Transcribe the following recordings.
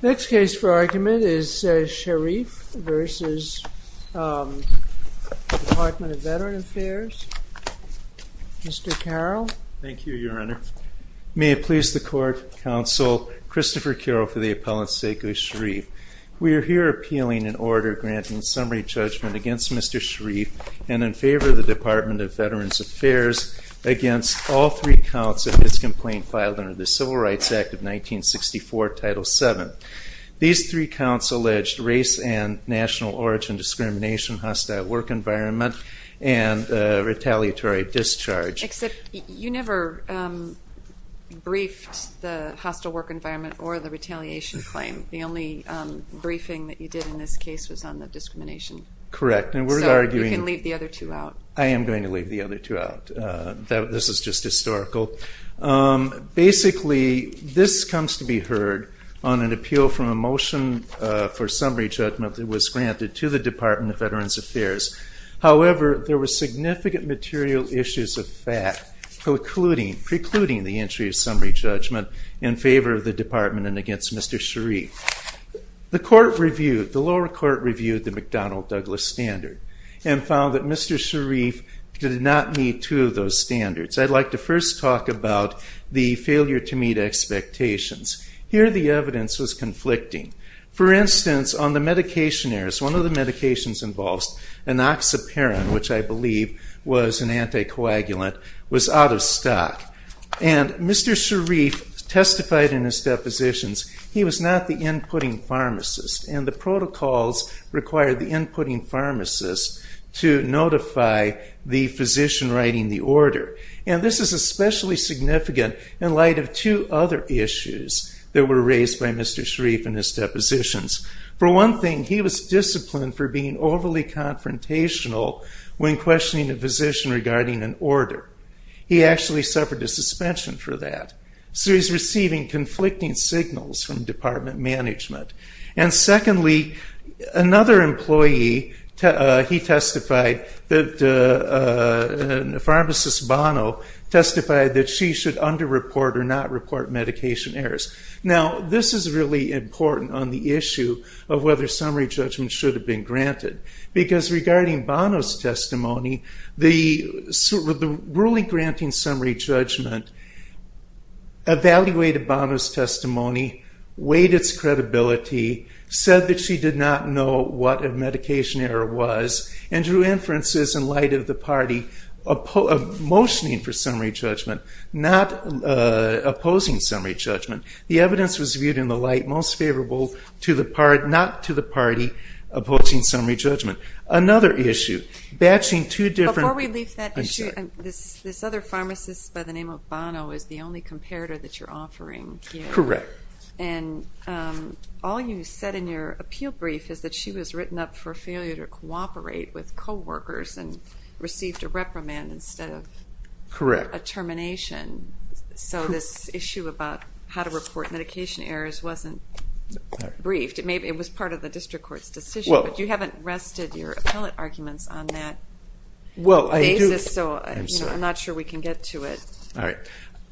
Next case for argument is Cherif v. Department of Veterans Affairs. Mr. Carroll. Thank you, Your Honor. May it please the Court, Counsel, Christopher Carroll for the appellant's sake of Cherif. We are here appealing an order granting summary judgment against Mr. Cherif and in favor of the Department of Veterans Affairs against all three counts of this complaint filed under the Civil Rights Act of 1964, Title VII. These three counts allege race and national origin discrimination, hostile work environment, and retaliatory discharge. Except you never briefed the hostile work environment or the retaliation claim. The only briefing that you did in this case was on the discrimination. Correct, and we're arguing... So you can leave the other two out. I am going to leave the other two out. This is just historical. Basically, this comes to be heard on an appeal from a motion for summary judgment that was granted to the Department of Veterans Affairs. However, there were significant material issues of fact precluding the entry of summary judgment in favor of the Department and against Mr. Cherif. The lower court reviewed the McDonnell-Douglas standard and found that Mr. Cherif did not meet two of those standards. I'd like to first talk about the failure to meet expectations. Here the evidence was conflicting. For instance, on the medication errors, one of the medications involved, anoxaparin, which I believe was an anticoagulant, was out of stock. Mr. Cherif testified in his depositions. He was not the inputting pharmacist, and the protocols required the inputting pharmacist to notify the physician writing the order. This is especially significant in light of two other issues that were raised by Mr. Cherif in his depositions. For one thing, he was disciplined for being overly confrontational when questioning a physician regarding an order. He actually suffered a suspension for that. So he's receiving conflicting signals from department management. And secondly, another employee, he testified, pharmacist Bono, testified that she should under-report or not report medication errors. Now, this is really important on the issue of whether summary judgment should have been granted, because regarding Bono's testimony, the ruling granting summary judgment evaluated Bono's testimony, weighed its credibility, said that she did not know what a medication error was, and drew inferences in light of the party motioning for summary judgment, not opposing summary judgment. The evidence was viewed in the light most favorable to the party, not to the party opposing summary judgment. Another issue, batching two different- Before we leave that issue, this other pharmacist by the name of Bono is the only comparator that you're offering here. Correct. And all you said in your appeal brief is that she was written up for failure to cooperate with coworkers and received a reprimand instead of- Correct. For a termination, so this issue about how to report medication errors wasn't briefed. It was part of the district court's decision, but you haven't rested your appellate arguments on that basis, so I'm not sure we can get to it. All right.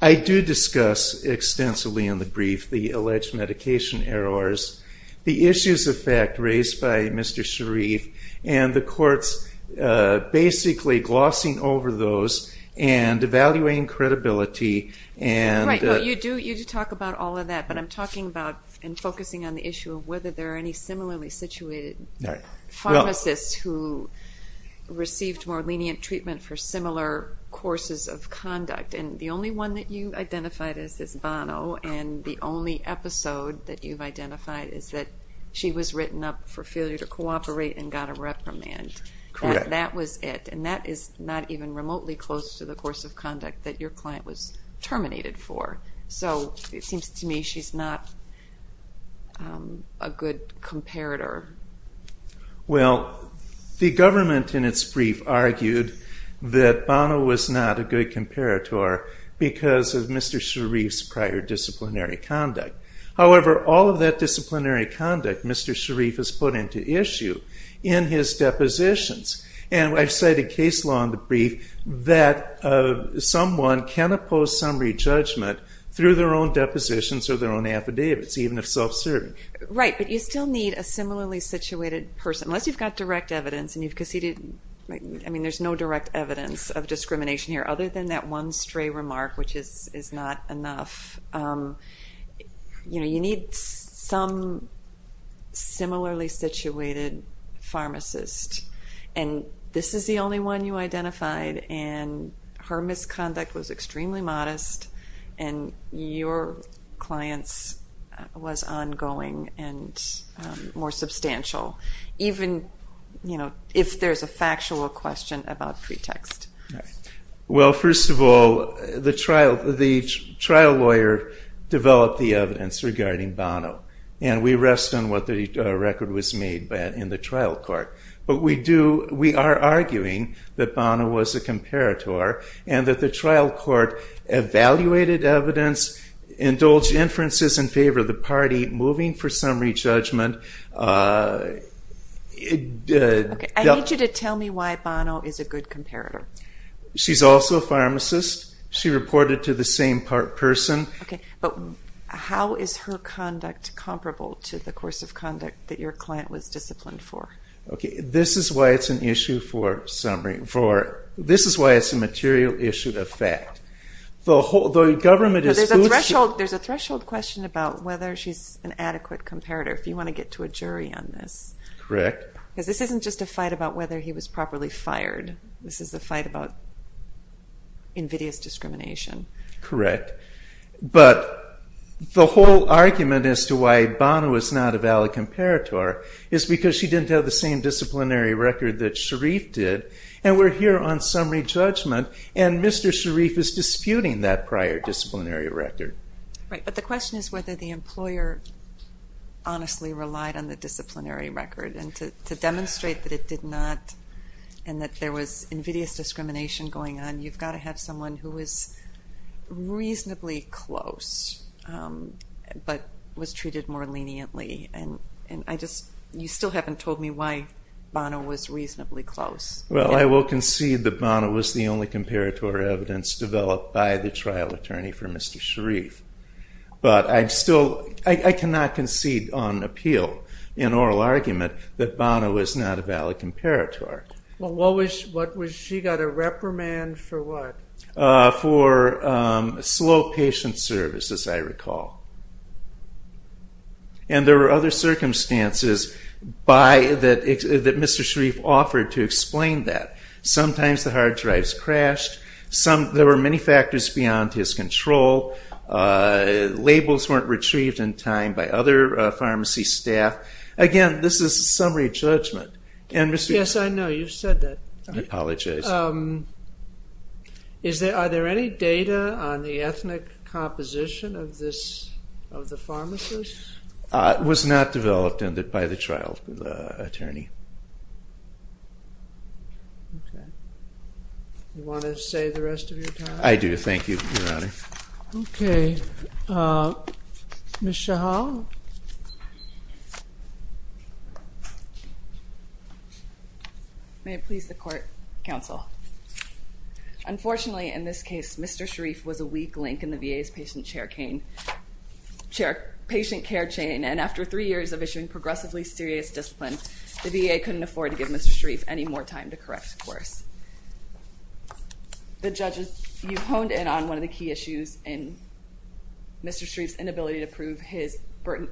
I do discuss extensively in the brief the alleged medication errors, the issues of fact raised by Mr. Sharif, and the courts basically glossing over those and evaluating credibility and- Right, you do talk about all of that, but I'm talking about and focusing on the issue of whether there are any similarly situated pharmacists who received more lenient treatment for similar courses of conduct, and the only one that you identified as this Bono, and the only episode that you've identified is that she was written up for failure to cooperate and got a reprimand. Correct. That was it, and that is not even remotely close to the course of conduct that your client was terminated for, so it seems to me she's not a good comparator. Well, the government in its brief argued that Bono was not a good comparator because of Mr. Sharif's prior disciplinary conduct. However, all of that disciplinary conduct Mr. Sharif has put into issue in his depositions, and I've cited case law in the brief that someone can oppose summary judgment through their own depositions or their own affidavits, even if self-serving. Right, but you still need a similarly situated person, unless you've got direct evidence, because there's no direct evidence of discrimination here other than that one stray remark, which is not enough. You need some similarly situated pharmacist, and this is the only one you identified, and her misconduct was extremely modest, and your client's was ongoing and more substantial, even if there's a factual question about pretext. Right. Well, first of all, the trial lawyer developed the evidence regarding Bono, and we rest on what the record was made in the trial court, but we are arguing that Bono was a comparator and that the trial court evaluated evidence, indulged inferences in favor of the party, moving for summary judgment. I need you to tell me why Bono is a good comparator. She's also a pharmacist. She reported to the same person. Okay, but how is her conduct comparable to the course of conduct that your client was disciplined for? Okay, this is why it's a material issue of fact. There's a threshold question about whether she's an adequate comparator, if you want to get to a jury on this. Correct. Because this isn't just a fight about whether he was properly fired. This is a fight about invidious discrimination. Correct. But the whole argument as to why Bono is not a valid comparator is because she didn't have the same disciplinary record that Sharif did, and we're here on summary judgment, and Mr. Sharif is disputing that prior disciplinary record. Right, but the question is whether the employer honestly relied on the disciplinary record, and to demonstrate that it did not and that there was invidious discrimination going on, you've got to have someone who is reasonably close but was treated more leniently, and you still haven't told me why Bono was reasonably close. Well, I will concede that Bono was the only comparator evidence developed by the trial attorney for Mr. Sharif, but I cannot concede on appeal in oral argument that Bono was not a valid comparator. Well, she got a reprimand for what? For slow patient service, as I recall. And there were other circumstances that Mr. Sharif offered to explain that. Sometimes the hard drives crashed. There were many factors beyond his control. Labels weren't retrieved in time by other pharmacy staff. Again, this is summary judgment. Yes, I know. You've said that. I apologize. Are there any data on the ethnic composition of the pharmacist? It was not developed by the trial attorney. Okay. You want to save the rest of your time? I do. Thank you, Your Honor. Okay. Ms. Shahal? May it please the court, counsel. Unfortunately, in this case, Mr. Sharif was a weak link in the VA's patient care chain, and after three years of issuing progressively serious discipline, the VA couldn't afford to give Mr. Sharif any more time to correct scores. The judges, you honed in on one of the key issues in Mr. Sharif's inability to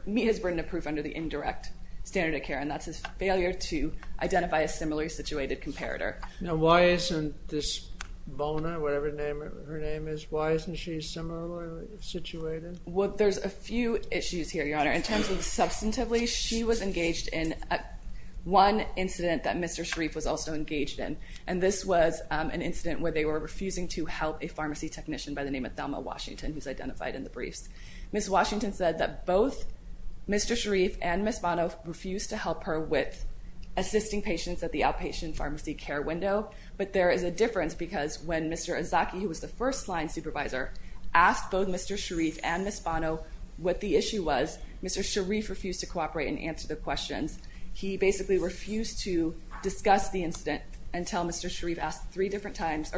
meet his burden of proof under the indirect standard of care, and that's his failure to identify a similarly situated comparator. Now, why isn't this Bona, whatever her name is, why isn't she similarly situated? Well, there's a few issues here, Your Honor. In terms of substantively, she was engaged in one incident that Mr. Sharif was also engaged in, and this was an incident where they were refusing to help a pharmacy technician by the name of Thelma Washington, who's identified in the briefs. Ms. Washington said that both Mr. Sharif and Ms. Bono refused to help her with assisting patients at the outpatient pharmacy care window, but there is a difference because when Mr. Azaki, who was the first-line supervisor, asked both Mr. Sharif and Ms. Bono what the issue was, Mr. Sharif refused to cooperate and answer the questions. He basically refused to discuss the incident until Mr. Azaki asked three different times,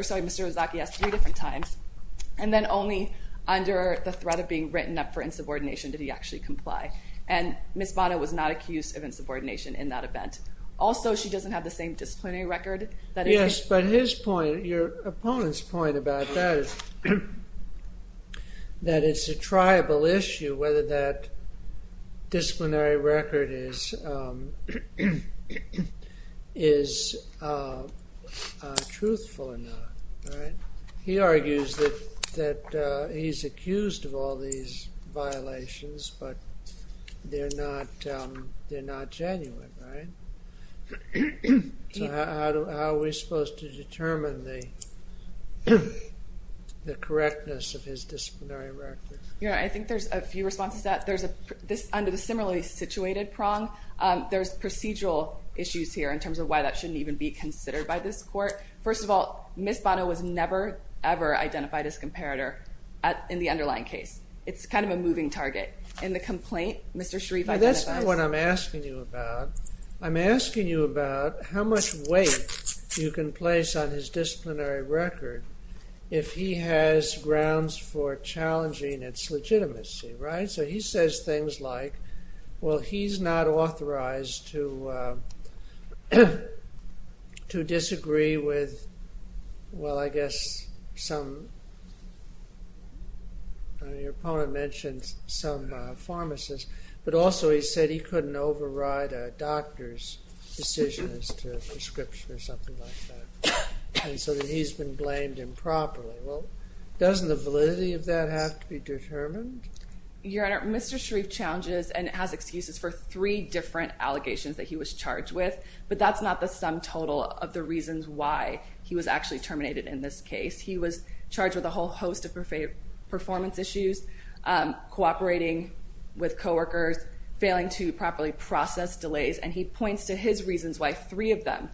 and then only under the threat of being written up for insubordination did he actually comply. And Ms. Bono was not accused of insubordination in that event. Also, she doesn't have the same disciplinary record. Yes, but your opponent's point about that is that it's a triable issue whether that disciplinary record is truthful or not, right? He argues that he's accused of all these violations, but they're not genuine, right? So how are we supposed to determine the correctness of his disciplinary record? I think there's a few responses to that. Under the similarly situated prong, there's procedural issues here in terms of why that shouldn't even be considered by this court. First of all, Ms. Bono was never, ever identified as comparator in the underlying case. It's kind of a moving target. In the complaint, Mr. Sharif identifies... That's not what I'm asking you about. I'm asking you about how much weight you can place on his disciplinary record if he has grounds for challenging its legitimacy, right? So he says things like, well, he's not authorized to disagree with... Well, I guess some... Your opponent mentioned some pharmacists, but also he said he couldn't override a doctor's decision as to a prescription or something like that. And so he's been blamed improperly. Well, doesn't the validity of that have to be determined? Your Honor, Mr. Sharif challenges and has excuses for three different allegations that he was charged with, but that's not the sum total of the reasons why he was actually terminated in this case. He was charged with a whole host of performance issues, cooperating with coworkers, failing to properly process delays, and he points to his reasons why three of them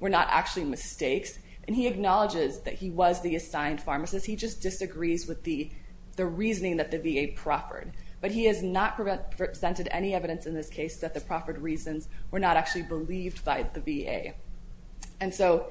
were not actually mistakes. And he acknowledges that he was the assigned pharmacist. He just disagrees with the reasoning that the VA proffered. But he has not presented any evidence in this case that the proffered reasons were not actually believed by the VA. And so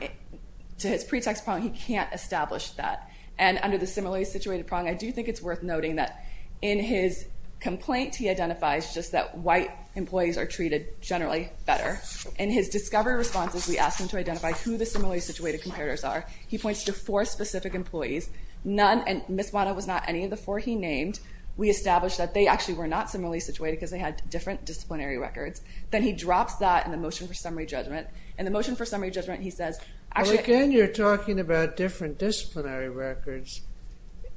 to his pretext problem, he can't establish that. And under the similarly situated problem, I do think it's worth noting that in his complaint, he identifies just that white employees are treated generally better. In his discovery responses, we asked him to identify who the similarly situated comparators are. He points to four specific employees, none, and Ms. Wadah was not any of the four he named. We established that they actually were not similarly situated because they had different disciplinary records. Then he drops that in the motion for summary judgment. In the motion for summary judgment, he says, actually... Well, again, you're talking about different disciplinary records.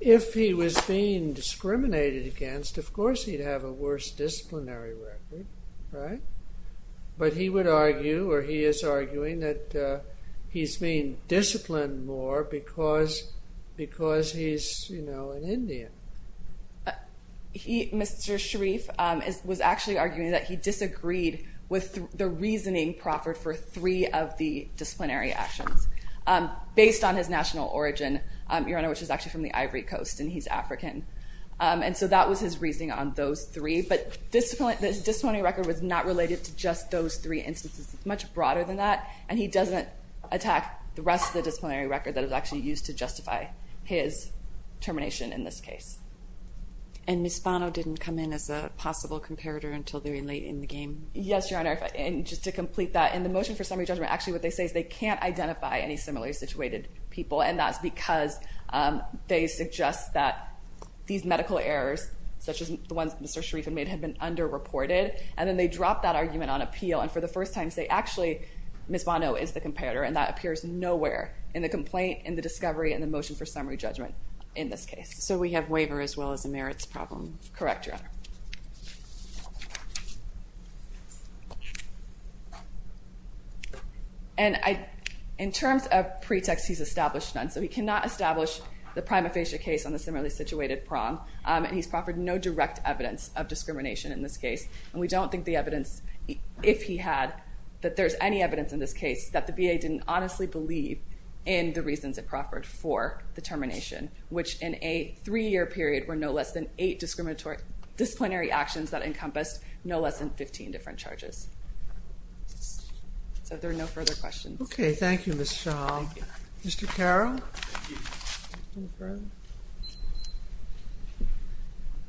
If he was being discriminated against, of course he'd have a worse disciplinary record, right? But he would argue, or he is arguing, that he's being disciplined more because he's, you know, an Indian. Mr. Sharif was actually arguing that he disagreed with the reasoning proffered for three of the disciplinary actions. Based on his national origin, Your Honor, which is actually from the Ivory Coast, and he's African. And so that was his reasoning on those three. But the disciplinary record was not related to just those three instances. It's much broader than that. And he doesn't attack the rest of the disciplinary record that is actually used to justify his termination in this case. And Ms. Bono didn't come in as a possible comparator until very late in the game? Yes, Your Honor. And just to complete that, in the motion for summary judgment, actually what they say is they can't identify any similarly situated people. And that's because they suggest that these medical errors, such as the ones Mr. Sharif had made, had been underreported. And then they drop that argument on appeal. And for the first time say, actually, Ms. Bono is the comparator. And that appears nowhere in the complaint, in the discovery, in the motion for summary judgment in this case. Correct, Your Honor. And in terms of pretext, he's established none. So he cannot establish the prima facie case on the similarly situated prom. And he's proffered no direct evidence of discrimination in this case. And we don't think the evidence, if he had, that there's any evidence in this case that the VA didn't honestly believe in the reasons it proffered for the termination, which in a three-year period were no less than eight disciplinary actions that encompassed no less than 15 different charges. So there are no further questions. Okay. Thank you, Ms. Shaw. Thank you. Mr. Carroll.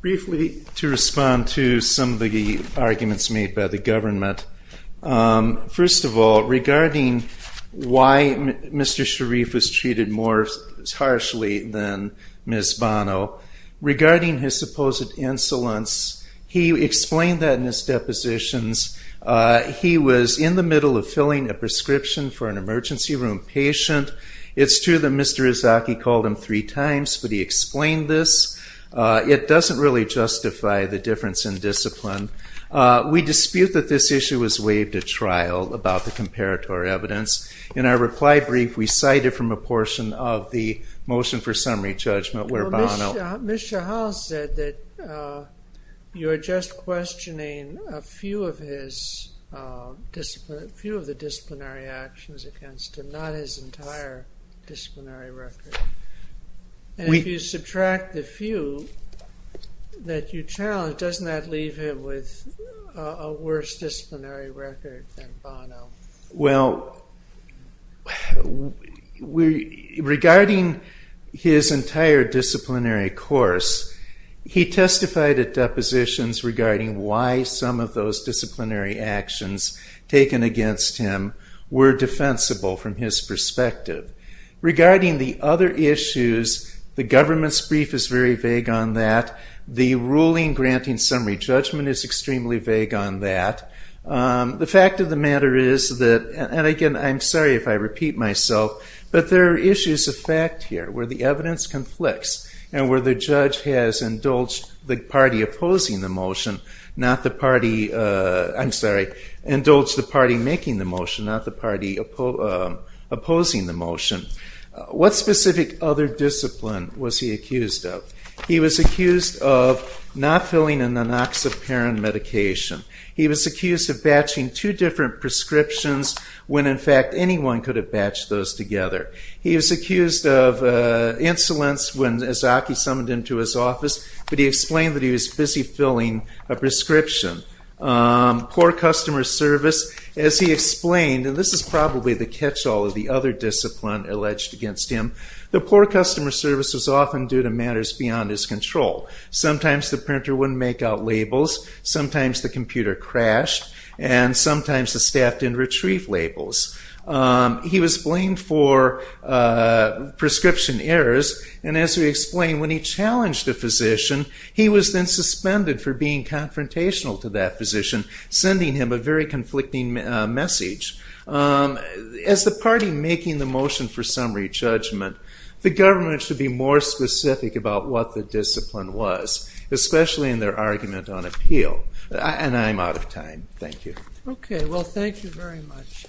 Briefly, to respond to some of the arguments made by the government. First of all, regarding why Mr. Sharif was treated more harshly than Ms. Bono, regarding his supposed insolence, he explained that in his depositions. He was in the middle of filling a prescription for an emergency room patient. It's true that Mr. Izaki called him three times, but he explained this. It doesn't really justify the difference in discipline. We dispute that this issue was waived at trial about the comparatory evidence. In our reply brief, we cited from a portion of the motion for summary judgment where Bono Ms. Shahal said that you are just questioning a few of the disciplinary actions against him, not his entire disciplinary record. And if you subtract the few that you challenge, doesn't that leave him with a worse disciplinary record than Bono? Well, regarding his entire disciplinary course, he testified at depositions regarding why some of those disciplinary actions taken against him were defensible from his perspective. Regarding the other issues, the government's brief is very vague on that. The ruling granting summary judgment is extremely vague on that. The fact of the matter is that, and again, I'm sorry if I repeat myself, but there are issues of fact here where the evidence conflicts and where the judge has indulged the party opposing the motion, not the party, I'm sorry, indulged the party making the motion, not the party opposing the motion. What specific other discipline was he accused of? He was accused of not filling an anoxaparin medication. He was accused of batching two different prescriptions when, in fact, anyone could have batched those together. He was accused of insolence when Azaki summoned him to his office, but he explained that he was busy filling a prescription. Poor customer service, as he explained, and this is probably the catch-all of the other discipline alleged against him, that poor customer service was often due to matters beyond his control. Sometimes the printer wouldn't make out labels. Sometimes the computer crashed, and sometimes the staff didn't retrieve labels. He was blamed for prescription errors, and as we explained, when he challenged a physician, he was then suspended for being confrontational to that physician, sending him a very conflicting message. As the party making the motion for summary judgment, the government should be more specific about what the discipline was, especially in their argument on appeal. And I'm out of time. Thank you. Okay. Well, thank you very much,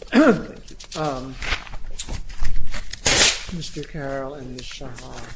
Mr. Carroll and Ms. Sharma.